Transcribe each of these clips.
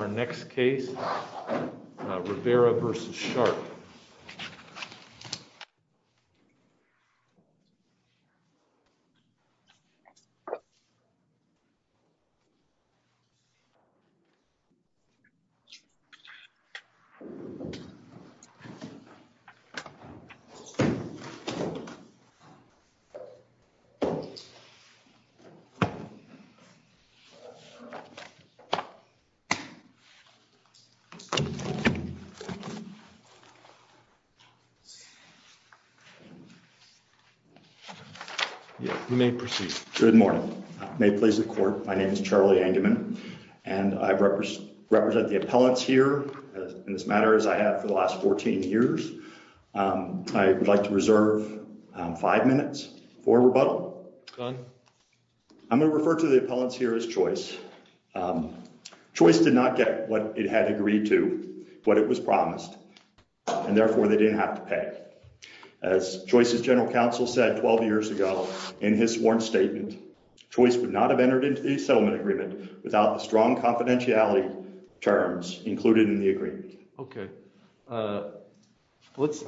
Our next case, Rivera v. Sharp. Thank you. Good morning. May please the court. My name is Charlie and human. And I've referenced represent the appellants here in this matter as I have for the last 14 years. I would like to reserve five minutes for rebuttal. I'm going to refer to the appellants here is choice. Choice did not get what it had agreed to what it was promised. And therefore they didn't have to pay as choices General Counsel said 12 years ago, in his sworn statement choice but not have entered into the settlement agreement without the strong confidentiality terms included in the agreement. Okay. Let's.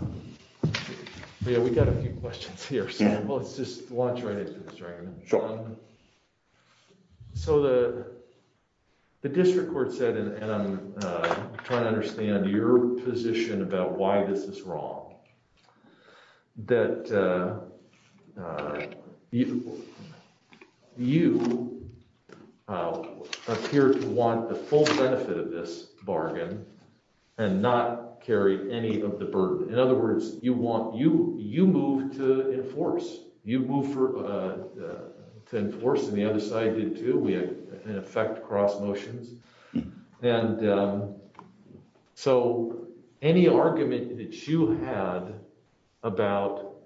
Yeah, we got a few questions here. Well, it's just launch right. So the district court said and I'm trying to understand your position about why this is wrong. That you appear to want the full benefit of this bargain, and not carry any of the burden. In other words, you want you, you move to enforce you move for 10 force and the other side did too we have an effect cross motions. And so, any argument that you had about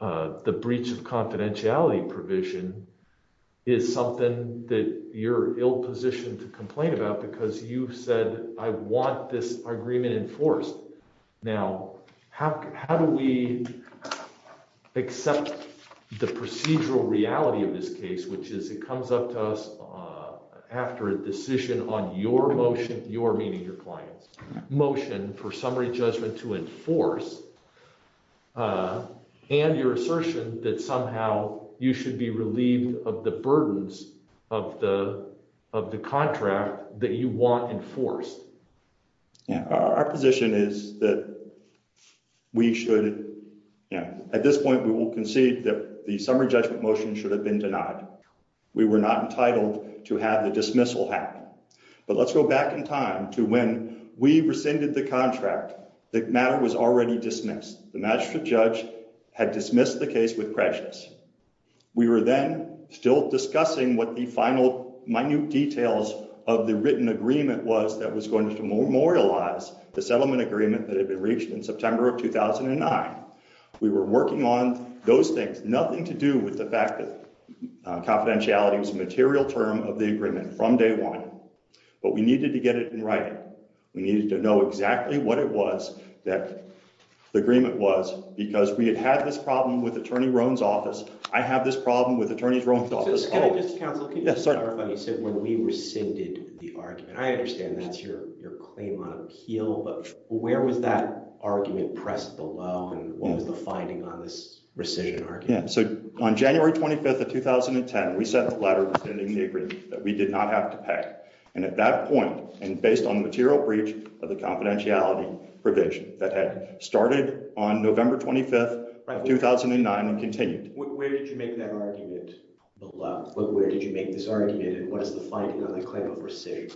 the breach of confidentiality provision is something that you're ill positioned to complain about because you've said, I want this agreement enforced. Now, how do we accept the procedural reality of this case which is it comes up to us after a decision on your motion, you're meeting your clients motion for summary judgment to enforce and your assertion that somehow, you should be relieved of the burdens of the, of the contract that you want enforced. Yeah, our position is that we should. Yeah, at this point we will concede that the summary judgment motion should have been denied. We were not entitled to have the dismissal happen. But let's go back in time to when we rescinded the contract that matter was already dismissed the magistrate judge had dismissed the case with precious. We were then still discussing what the final minute details of the written agreement was that was going to memorialize the settlement agreement that had been reached in September of 2009. We were working on those things, nothing to do with the fact that confidentiality was a material term of the agreement from day one, but we needed to get it right. We needed to know exactly what it was that the agreement was, because we had had this problem with Attorney Rohn's office. I have this problem with attorneys wrong. When we rescinded the argument I understand that's your, your claim on appeal but where was that argument press below and what was the finding on this rescission. Yeah, so on January 25 of 2010 we sent a letter that we did not have to pay. And at that point, and based on the material breach of the confidentiality provision that had started on November 25 2009 and continued. Where did you make that argument below, but where did you make this argument and what is the finding on the claim of rescission.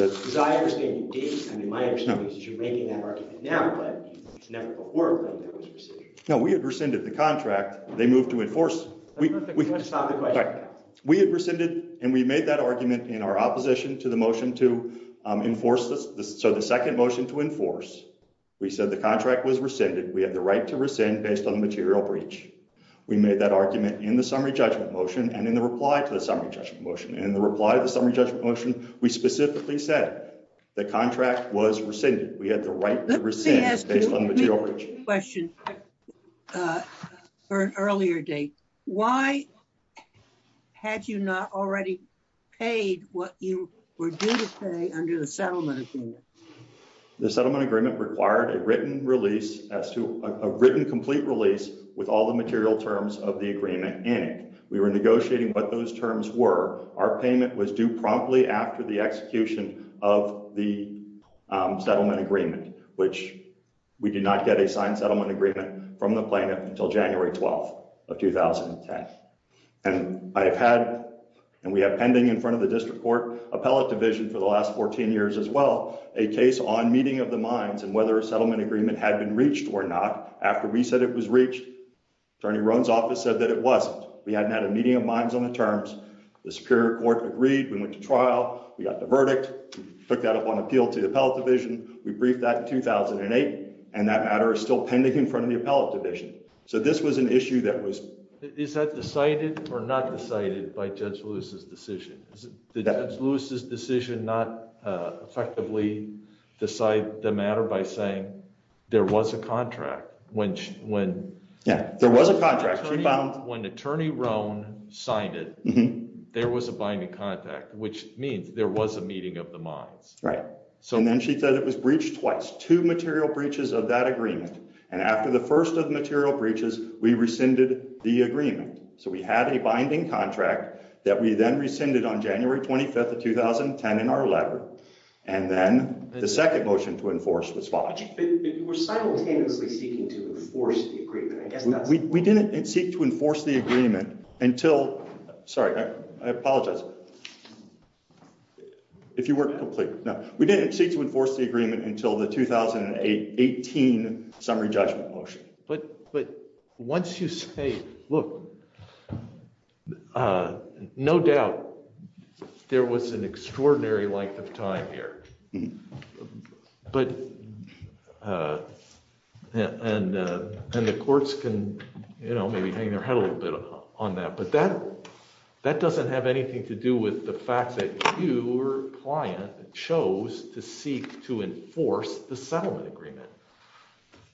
As I understand it, I mean my understanding is that you're making that argument now but it's never before a claim that was rescinded. No, we had rescinded the contract, they moved to enforce. We had rescinded and we made that argument in our opposition to the motion to enforce this, so the second motion to enforce. We said the contract was rescinded we had the right to rescind based on material breach. We made that argument in the summary judgment motion and in the reply to the summary judgment motion and the reply to the summary judgment motion, we specifically said the contract was rescinded, we had the right to rescind based on the material breach. Question. For an earlier date. Why had you not already paid what you were due to pay under the settlement agreement. The settlement agreement required a written release as to a written complete release with all the material terms of the agreement, and we were negotiating what those terms were our payment was due promptly after the execution of the settlement agreement, which we did not get a signed settlement agreement from the planet until January 12 of 2010. And I've had, and we have pending in front of the district court appellate division for the last 14 years as well, a case on meeting of the minds and whether a settlement agreement had been reached or not, after we said it was reached. Attorney Ron's office said that it wasn't, we hadn't had a meeting of minds on the terms, the Superior Court agreed we went to trial, we got the verdict, took that up on appeal to the appellate division, we briefed that in 2008, and that matter is still pending in front of the appellate division. So this was an issue that was is that decided or not decided by judge Lewis's decision that loses decision not effectively decide the matter by saying there was a contract, when, when there was a contract. When Attorney Ron signed it, there was a binding contact, which means there was a meeting of the minds. Right. So, and then she said it was breached twice to material breaches of that agreement. And after the first of material breaches, we rescinded the agreement. So we had a binding contract that we then rescinded on January 25 of 2010 in our letter. And then the second motion to enforce the spot. We didn't seek to enforce the agreement until. Sorry, I apologize. If you weren't complete. Now, we didn't seek to enforce the agreement until the 2018 summary judgment motion, but, but once you say, look, no doubt, there was an extraordinary length of time here. But, and, and the courts can, you know, maybe hang their head a little bit on that but that that doesn't have anything to do with the fact that your client chose to seek to enforce the settlement agreement.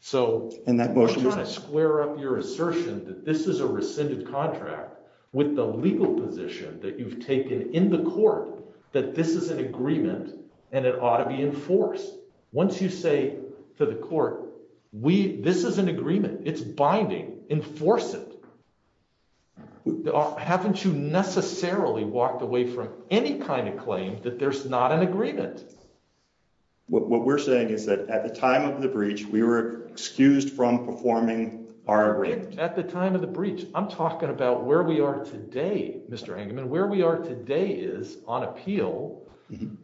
So, and that motion is a square up your assertion that this is a rescinded contract with the legal position that you've taken in the court, that this is an agreement, and it ought to be enforced. Once you say to the court, we, this is an agreement, it's binding enforce it. Haven't you necessarily walked away from any kind of claim that there's not an agreement. What we're saying is that at the time of the breach we were excused from performing our at the time of the breach, I'm talking about where we are today, Mr hangman where we are today is on appeal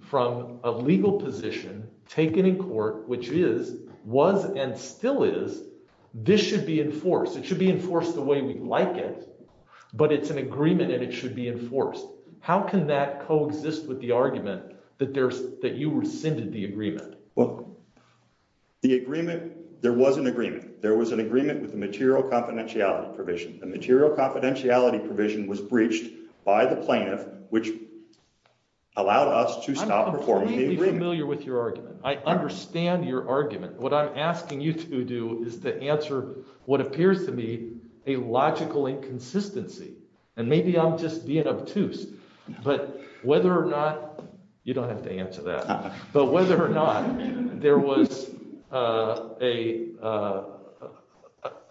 from a legal position, taken in court, which is was and still is. This should be enforced it should be enforced the way we like it, but it's an agreement and it should be enforced. How can that coexist with the argument that there's that you rescinded the agreement. The agreement. There was an agreement, there was an agreement with the material confidentiality provision, the material confidentiality provision was breached by the plaintiff, which allowed us to stop performing familiar with your argument, I understand your argument, what I'm asking you to do is to answer what appears to be a logical inconsistency. And maybe I'm just being obtuse, but whether or not you don't have to answer that. But whether or not there was a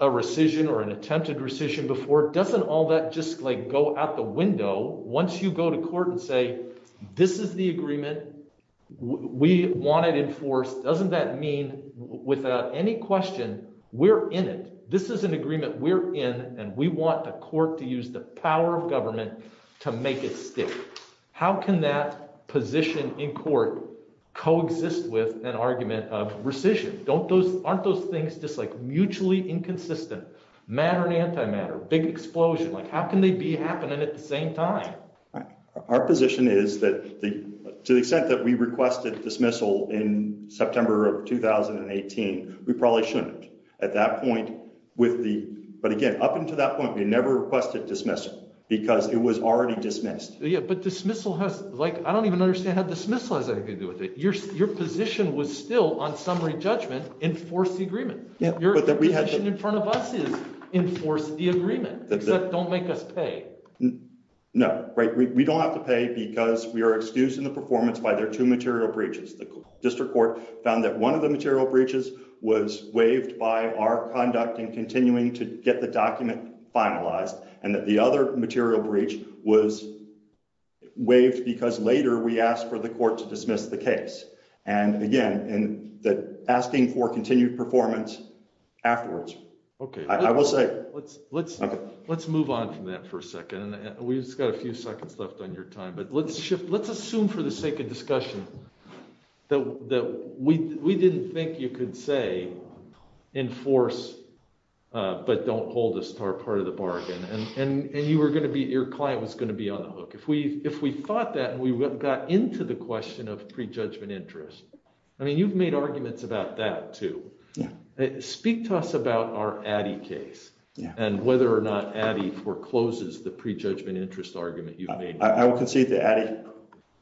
rescission or an attempted rescission before doesn't all that just like go out the window, once you go to court and say, this is the agreement. We want it enforced doesn't that mean without any question, we're in it. This is an agreement we're in, and we want the court to use the power of government to make it stick. How can that position in court coexist with an argument of rescission, don't those aren't those things just like mutually inconsistent matter and antimatter big explosion like how can they be happening at the same time. Our position is that the, to the extent that we requested dismissal in September of 2018, we probably shouldn't. At that point, with the, but again, up until that point we never requested dismissal, because it was already dismissed. Yeah, but dismissal has, like, I don't even understand how dismissal has anything to do with it, your, your position was still on summary judgment enforce the agreement. Yeah, but that we had in front of us is enforce the agreement that don't make us pay. No, right, we don't have to pay because we are excused in the performance by their to material breaches the district court found that one of the material breaches was waived by our conduct and continuing to get the document finalized, and that the other material breach was waived because later we asked for the court to dismiss the case. And again, and that asking for continued performance afterwards. Okay, I will say, let's, let's, let's move on from that for a second and we just got a few seconds left on your time but let's shift let's assume for the sake of discussion that we didn't think you could say, enforce, but don't hold a star part of the bargain and you were going to be your client was going to be on the hook if we if we thought that we got into the question of prejudgment interest. I mean you've made arguments about that too. Speak to us about our case, and whether or not addy forecloses the prejudgment interest argument you've made, I will concede the addy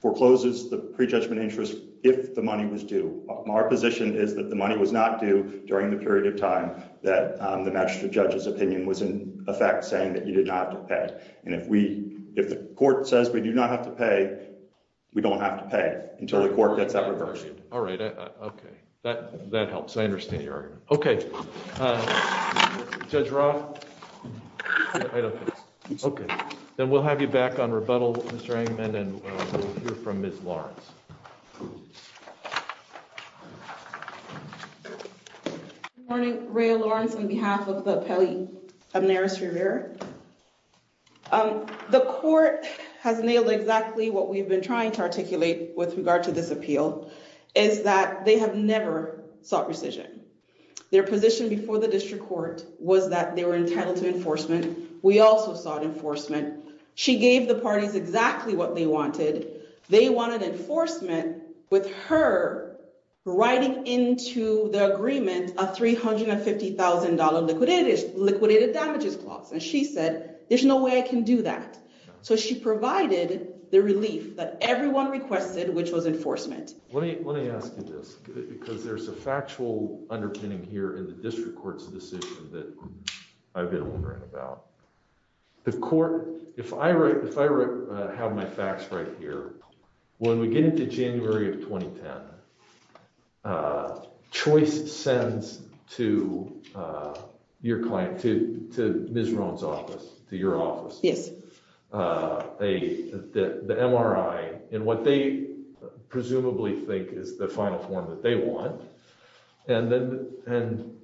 forecloses the prejudgment interest, if the money was due, our position is that the money was not do during the period of time that the magistrate opinion was in effect saying that you did not have to pay. And if we, if the court says we do not have to pay. We don't have to pay until the court gets that reverse. All right. Okay, that, that helps I understand you're okay. Judge Rob. Okay, then we'll have you back on rebuttal. From Miss Lawrence. Good morning, Ray Lawrence on behalf of the Pelley of nearest river. The court has nailed exactly what we've been trying to articulate with regard to this appeal is that they have never saw precision their position before the district court was that they were entitled to enforcement. We also sought enforcement. She gave the parties exactly what they wanted. They wanted enforcement with her writing into the agreement, a $350,000 liquidated liquidated damages clause and she said, there's no way I can do that. So she provided the relief that everyone requested which was enforcement. Let me, let me ask you this, because there's a factual underpinning here in the district courts decision that I've been wondering about the court. If I write, if I have my facts right here. When we get into January of 2010 choice sends to your client to, to, Ms. Ron's office to your office. Yes. They, the MRI, and what they presumably think is the final form that they want. And then, and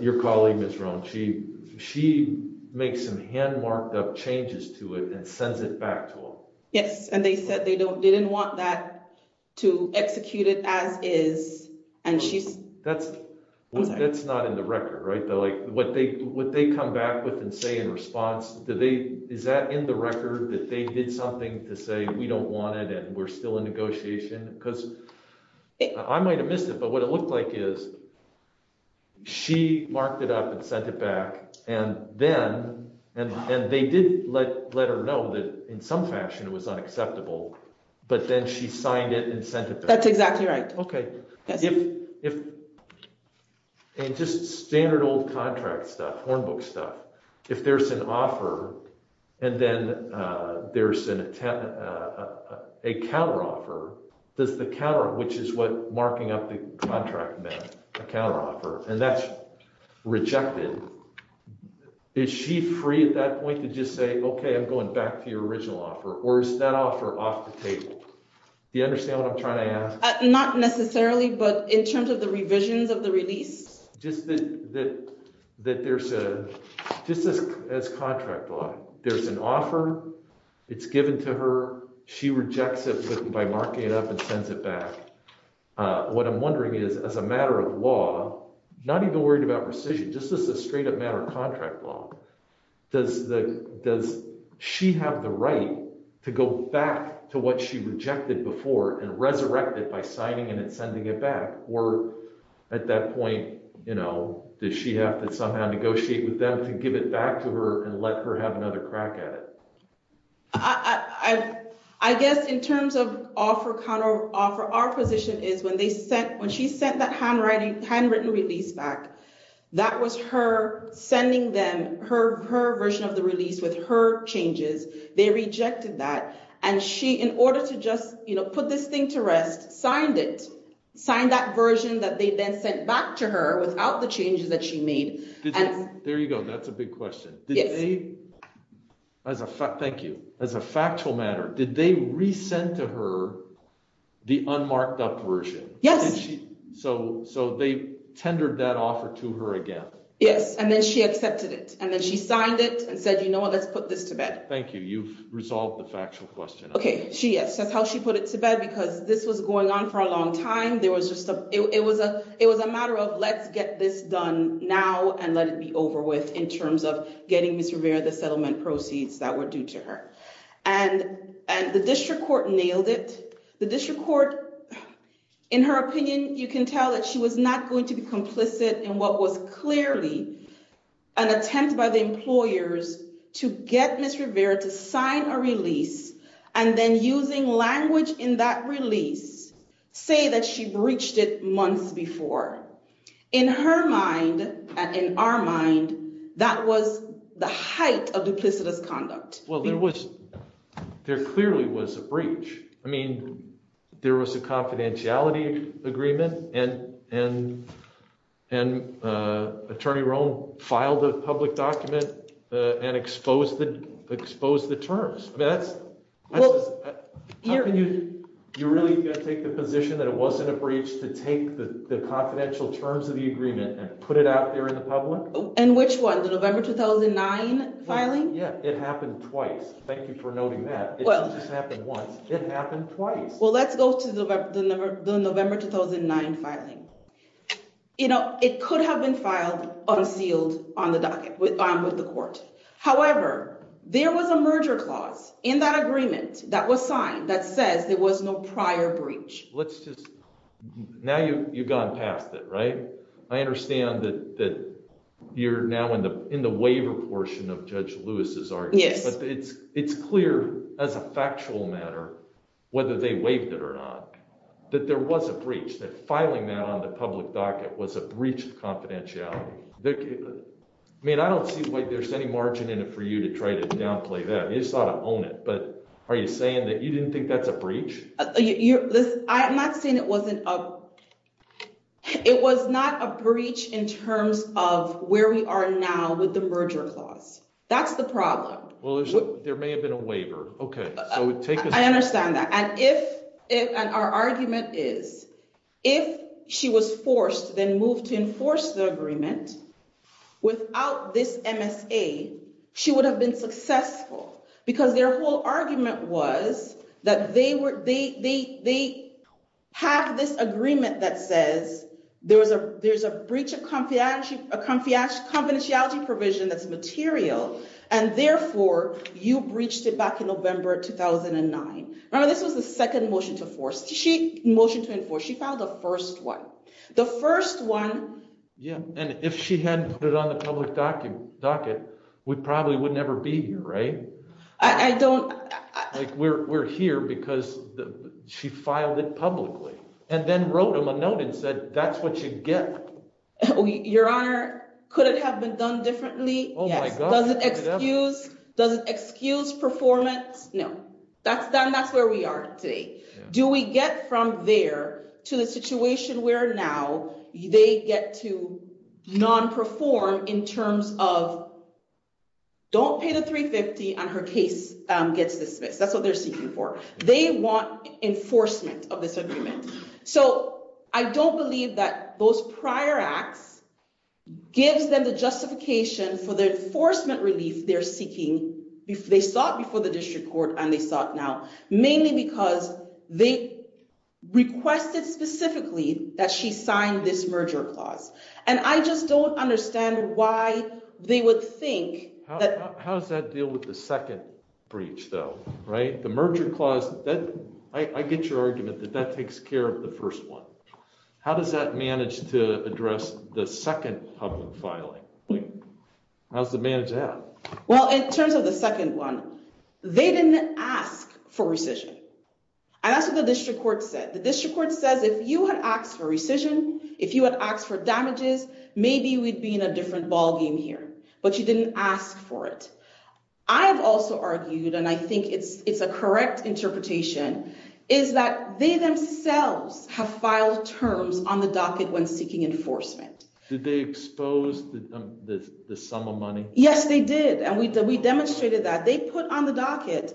your colleague is wrong. She, she makes some hand marked up changes to it and sends it back to him. Yes, and they said they don't they didn't want that to execute it as is. And she's, that's, that's not in the record right though like what they what they come back with and say in response to the, is that in the record that they did something to say we don't want it and we're still in negotiation, because I might have missed it but what it looked like is she marked it up and sent it back. And then, and they did let let her know that in some fashion was unacceptable. But then she signed it and sent it. That's exactly right. Okay. If, if it just standard old contract stuff one book stuff. If there's an offer. And then there's an attempt, a counter offer. Does the counter which is what marking up the contract man account offer, and that's rejected. Is she free at that point to just say okay I'm going back to your original offer or is that offer off the table. Do you understand what I'm trying to ask, not necessarily but in terms of the revisions of the release, just that, that, that there's a, just as, as contract law, there's an offer. It's given to her. She rejects it by marking it up and sends it back. What I'm wondering is, as a matter of law, not even worried about precision just as a straight up matter of contract law. Does the, does she have the right to go back to what she rejected before and resurrected by signing and sending it back, or at that point, you know, does she have to somehow negotiate with them to give it back to her and let her have another crack at it. I guess in terms of offer counter offer our position is when they sent when she sent that handwriting handwritten release back. That was her sending them her her version of the release with her changes, they rejected that, and she in order to just, you know, put this thing to rest signed it signed that version that they then sent back to her without the changes that she made. There you go. That's a big question. As a fact, thank you. As a factual matter, did they resend to her the unmarked up version. Yes. So, so they tendered that offer to her again. Yes, and then she accepted it, and then she signed it and said, you know, let's put this to bed. Thank you. You've resolved the factual question. Okay, she says how she put it to bed because this was going on for a long time. There was just a, it was a, it was a matter of let's get this done now and let it be over with in terms of getting Mr. Proceeds that were due to her and and the district court nailed it. The district court, in her opinion, you can tell that she was not going to be complicit in what was clearly an attempt by the employers to get Mr. Rivera to sign a release, and then using language in that release, say that she breached it months before, in her mind, and in our mind, that was the height of duplicitous conduct. Well, there was, there clearly was a breach. I mean, there was a confidentiality agreement, and, and, and Attorney Rohn filed a public document and exposed the exposed the terms, that's, you really take the position that it wasn't a breach to take the confidential terms of the agreement and put it out there in the public. And which one, the November 2009 filing? Yeah, it happened twice. Thank you for noting that. It didn't just happen once, it happened twice. Well, let's go to the November 2009 filing. You know, it could have been filed unsealed on the docket, on with the court. However, there was a merger clause in that agreement that was signed that says there was no prior breach. Now you've gone past it, right? I understand that you're now in the waiver portion of Judge Lewis's argument. Yes. But it's clear, as a factual matter, whether they waived it or not, that there was a breach, that filing that on the public docket was a breach of confidentiality. I mean, I don't see why there's any margin in it for you to try to downplay that. You just ought to own it. But are you saying that you didn't think that's a breach? I'm not saying it wasn't a... It was not a breach in terms of where we are now with the merger clause. That's the problem. Well, there may have been a waiver. Okay. I understand that. And if... And our argument is, if she was forced then moved to enforce the agreement without this MSA, she would have been successful. Because their whole argument was that they have this agreement that says there's a breach of confidentiality provision that's material, and therefore, you breached it back in November 2009. Remember, this was the second motion to enforce. Motion to enforce. She filed the first one. The first one... Yeah, and if she hadn't put it on the public docket, we probably would never be here, right? I don't... Like, we're here because she filed it publicly and then wrote him a note and said, that's what you get. Your Honor, could it have been done differently? Yes. Oh, my God. Does it excuse performance? No. That's done. That's where we are today. Do we get from there to the situation where now they get to non-perform in terms of, don't pay the 350 and her case gets dismissed. That's what they're seeking for. They want enforcement of this agreement. So, I don't believe that those prior acts gives them the justification for the enforcement relief they're seeking. They sought before the district court and they sought now, mainly because they requested specifically that she sign this merger clause. And I just don't understand why they would think that... I get your argument that that takes care of the first one. How does that manage to address the second public filing? How does it manage that? Well, in terms of the second one, they didn't ask for rescission. And that's what the district court said. The district court says, if you had asked for rescission, if you had asked for damages, maybe we'd be in a different ballgame here. But you didn't ask for it. I have also argued, and I think it's a correct interpretation, is that they themselves have filed terms on the docket when seeking enforcement. Did they expose the sum of money? Yes, they did. And we demonstrated that. They put on the docket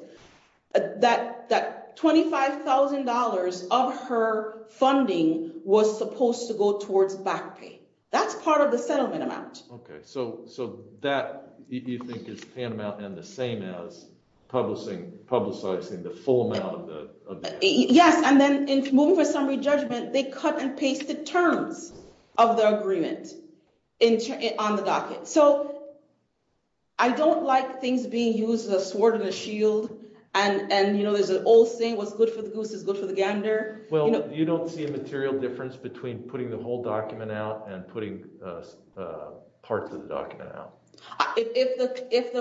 that $25,000 of her funding was supposed to go towards back pay. That's part of the settlement amount. Okay. So that, you think, is the amount and the same as publicizing the full amount of the... Yes. And then in moving for summary judgment, they cut and pasted terms of the agreement on the docket. So I don't like things being used as a sword and a shield. And, you know, there's an old saying, what's good for the goose is good for the gander. Well, you don't see a material difference between putting the whole document out and putting parts of the document out. If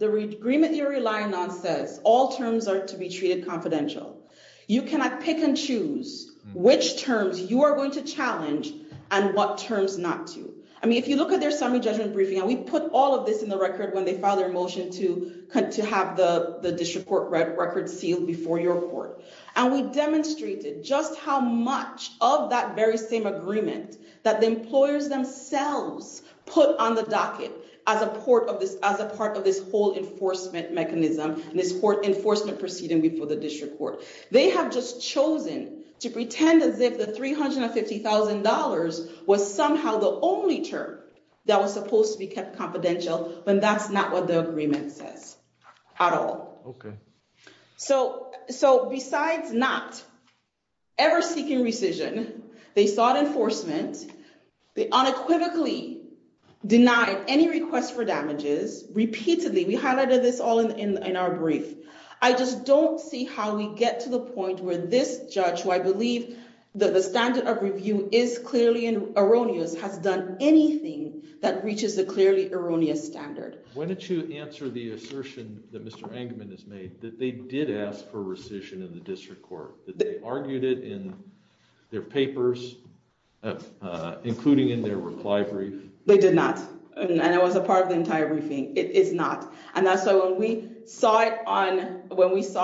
the agreement you're relying on says all terms are to be treated confidential, you cannot pick and choose which terms you are going to challenge and what terms not to. I mean, if you look at their summary judgment briefing, and we put all of this in the record when they filed their motion to have the district court record sealed before your court. And we demonstrated just how much of that very same agreement that the employers themselves put on the docket as a part of this whole enforcement mechanism, this court enforcement proceeding before the district court. They have just chosen to pretend as if the $350,000 was somehow the only term that was supposed to be kept confidential when that's not what the agreement says at all. OK. So besides not ever seeking rescission, they sought enforcement. They unequivocally denied any request for damages repeatedly. We highlighted this all in our brief. I just don't see how we get to the point where this judge, who I believe the standard of review is clearly erroneous, has done anything that reaches a clearly erroneous standard. When did you answer the assertion that Mr. Engelman has made that they did ask for rescission in the district court, that they argued it in their papers, including in their reply brief? They did not. And it was a part of the entire briefing. It is not. And that's why when we saw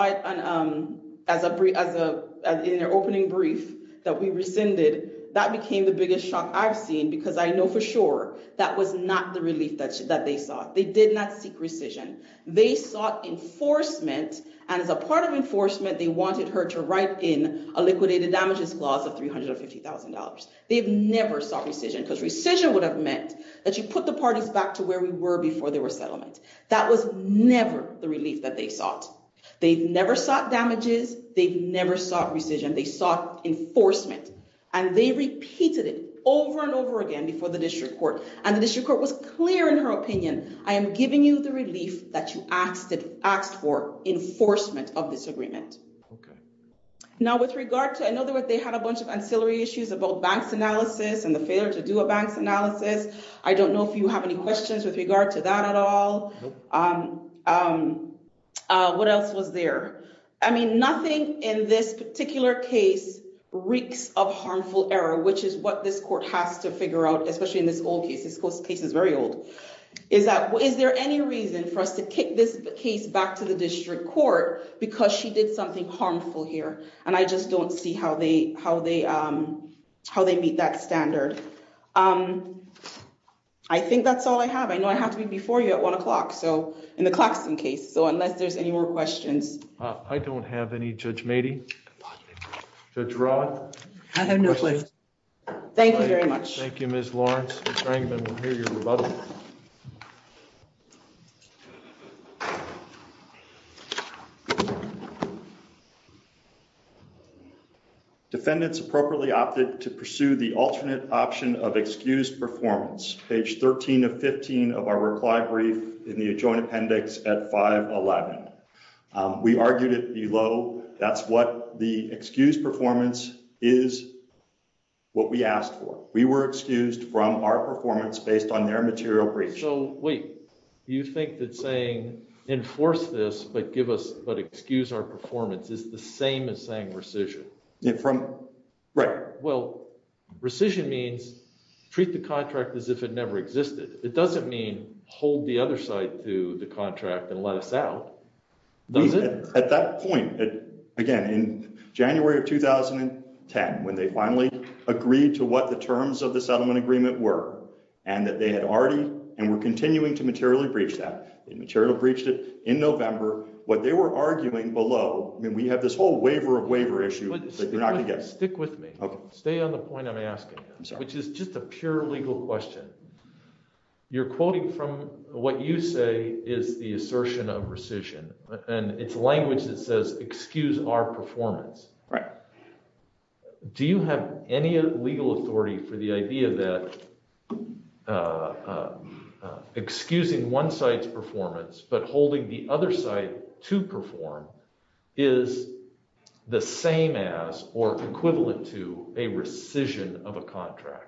it as an opening brief that we rescinded, that became the biggest shock I've seen because I know for sure that was not the relief that they sought. They did not seek rescission. They sought enforcement. And as a part of enforcement, they wanted her to write in a liquidated damages clause of $350,000. They've never sought rescission because rescission would have meant that you put the parties back to where we were before there was settlement. That was never the relief that they sought. They've never sought damages. They've never sought rescission. They sought enforcement. And they repeated it over and over again before the district court. And the district court was clear in her opinion, I am giving you the relief that you asked for enforcement of this agreement. I know they had a bunch of ancillary issues about banks analysis and the failure to do a banks analysis. I don't know if you have any questions with regard to that at all. What else was there? I mean, nothing in this particular case reeks of harmful error, which is what this court has to figure out, especially in this old case. This case is very old. Is there any reason for us to kick this case back to the district court because she did something harmful here? And I just don't see how they meet that standard. I think that's all I have. I know I have to be before you at 1 o'clock in the Claxton case. So unless there's any more questions. I don't have any judge made to draw. Thank you very much. Thank you, Miss Lawrence. I think it's appropriately opted to pursue the alternate option of excused performance page 13 of 15 of our reply brief in the joint appendix at 511. We argued it below. That's what the excuse performance is what we asked for. We were excused from our performance based on their material breach. So, wait, you think that saying enforce this, but give us but excuse our performance is the same as saying rescission from. Right. Well, rescission means treat the contract as if it never existed. It doesn't mean hold the other side to the contract and let us out at that point. Again, in January of 2010, when they finally agreed to what the terms of the settlement agreement were, and that they had already and we're continuing to materially breach that material breached it in November. What they were arguing below. We have this whole waiver of waiver issue. Stick with me. Stay on the point. I'm asking, which is just a pure legal question. You're quoting from what you say is the assertion of rescission, and it's language that says, excuse our performance. Right. Do you have any legal authority for the idea that excusing one side's performance, but holding the other side to perform is the same as or equivalent to a rescission of a contract.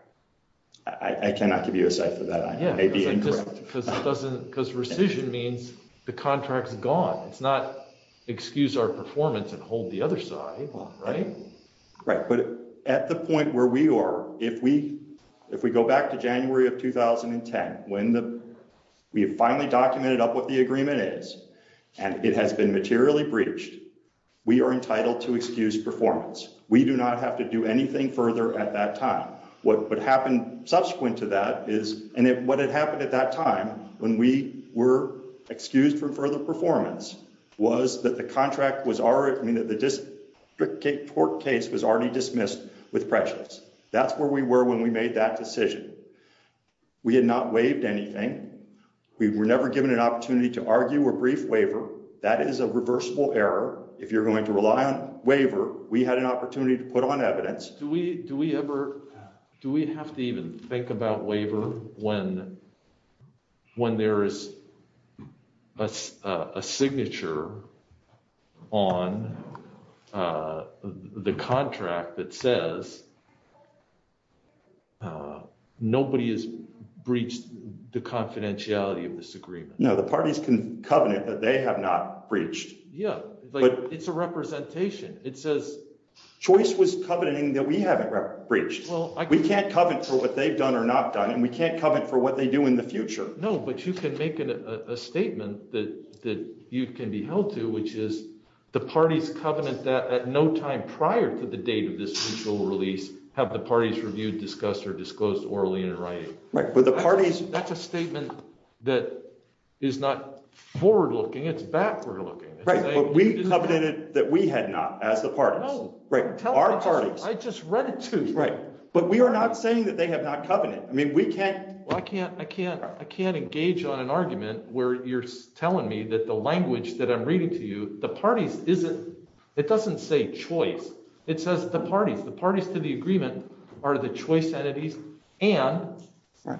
I cannot give you a site for that. I may be incorrect because it doesn't because rescission means the contract is gone. It's not excuse our performance and hold the other side. Right. Right. But at the point where we are, if we, if we go back to January of 2010, when we finally documented up what the agreement is, and it has been materially breached. We are entitled to excuse performance. We do not have to do anything further at that time. What would happen subsequent to that is, and if what had happened at that time, when we were excused from further performance was that the contract was already mean that the district court case was already dismissed with precious. That's where we were when we made that decision. We had not waived anything. We were never given an opportunity to argue a brief waiver. That is a reversible error. If you're going to rely on waiver, we had an opportunity to put on evidence. Yes. Do we do we ever do we have to even think about waiver, when, when there is a signature on the contract that says nobody is breached the confidentiality of this agreement. No, the parties can covenant that they have not breached. Yeah, but it's a representation, it says choice was coveting that we haven't reached. Well, we can't cover it for what they've done or not done and we can't cover it for what they do in the future. No, but you can make it a statement that that you can be held to which is the parties covenant that at no time prior to the date of this release, have the parties reviewed discussed or disclosed or early in writing, but the parties, that's a statement that is not forward looking it's backward looking. Right, but we covenanted that we had not as the parties, right, our parties, I just read it too right but we are not saying that they have not covered it I mean we can't, I can't, I can't, I can't engage on an argument where you're telling me that the language that I'm reading to you, the parties, isn't it doesn't say choice. It says the parties the parties to the agreement are the choice entities, and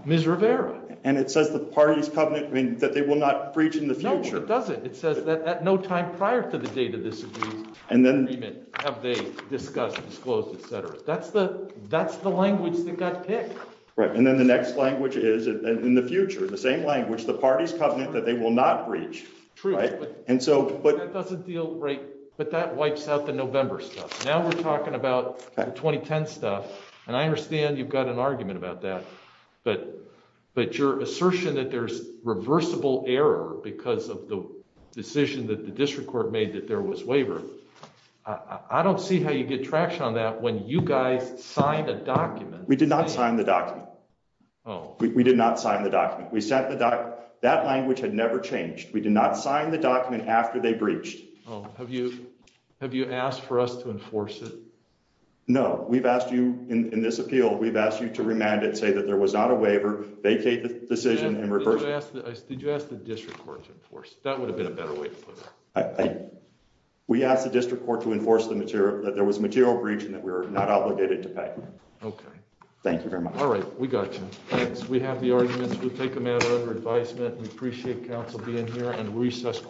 Miss Rivera, and it says the parties covenant mean that they will not reach in the future doesn't it says that at no time prior to the date of this. And then, have they discussed disclosed etc. That's the, that's the language that got picked right and then the next language is in the future the same language the parties covenant that they will not reach. And so, but it doesn't deal right, but that wipes out the November stuff now we're talking about 2010 stuff, and I understand you've got an argument about that. But, but your assertion that there's reversible error because of the decision that the district court made that there was waiver. I don't see how you get traction on that when you guys signed a document, we did not sign the document. Oh, we did not sign the document we sent the doc, that language had never changed we did not sign the document after they breached. Oh, have you have you asked for us to enforce it. No, we've asked you in this appeal we've asked you to remanded say that there was not a waiver vacate the decision and reverse the district court to enforce that would have been a better way. We asked the district court to enforce the material that there was material breach and that we're not obligated to pay. Okay. Thank you very much. All right, we got. We have the arguments we'll take them out under advisement and appreciate Council being here and recess.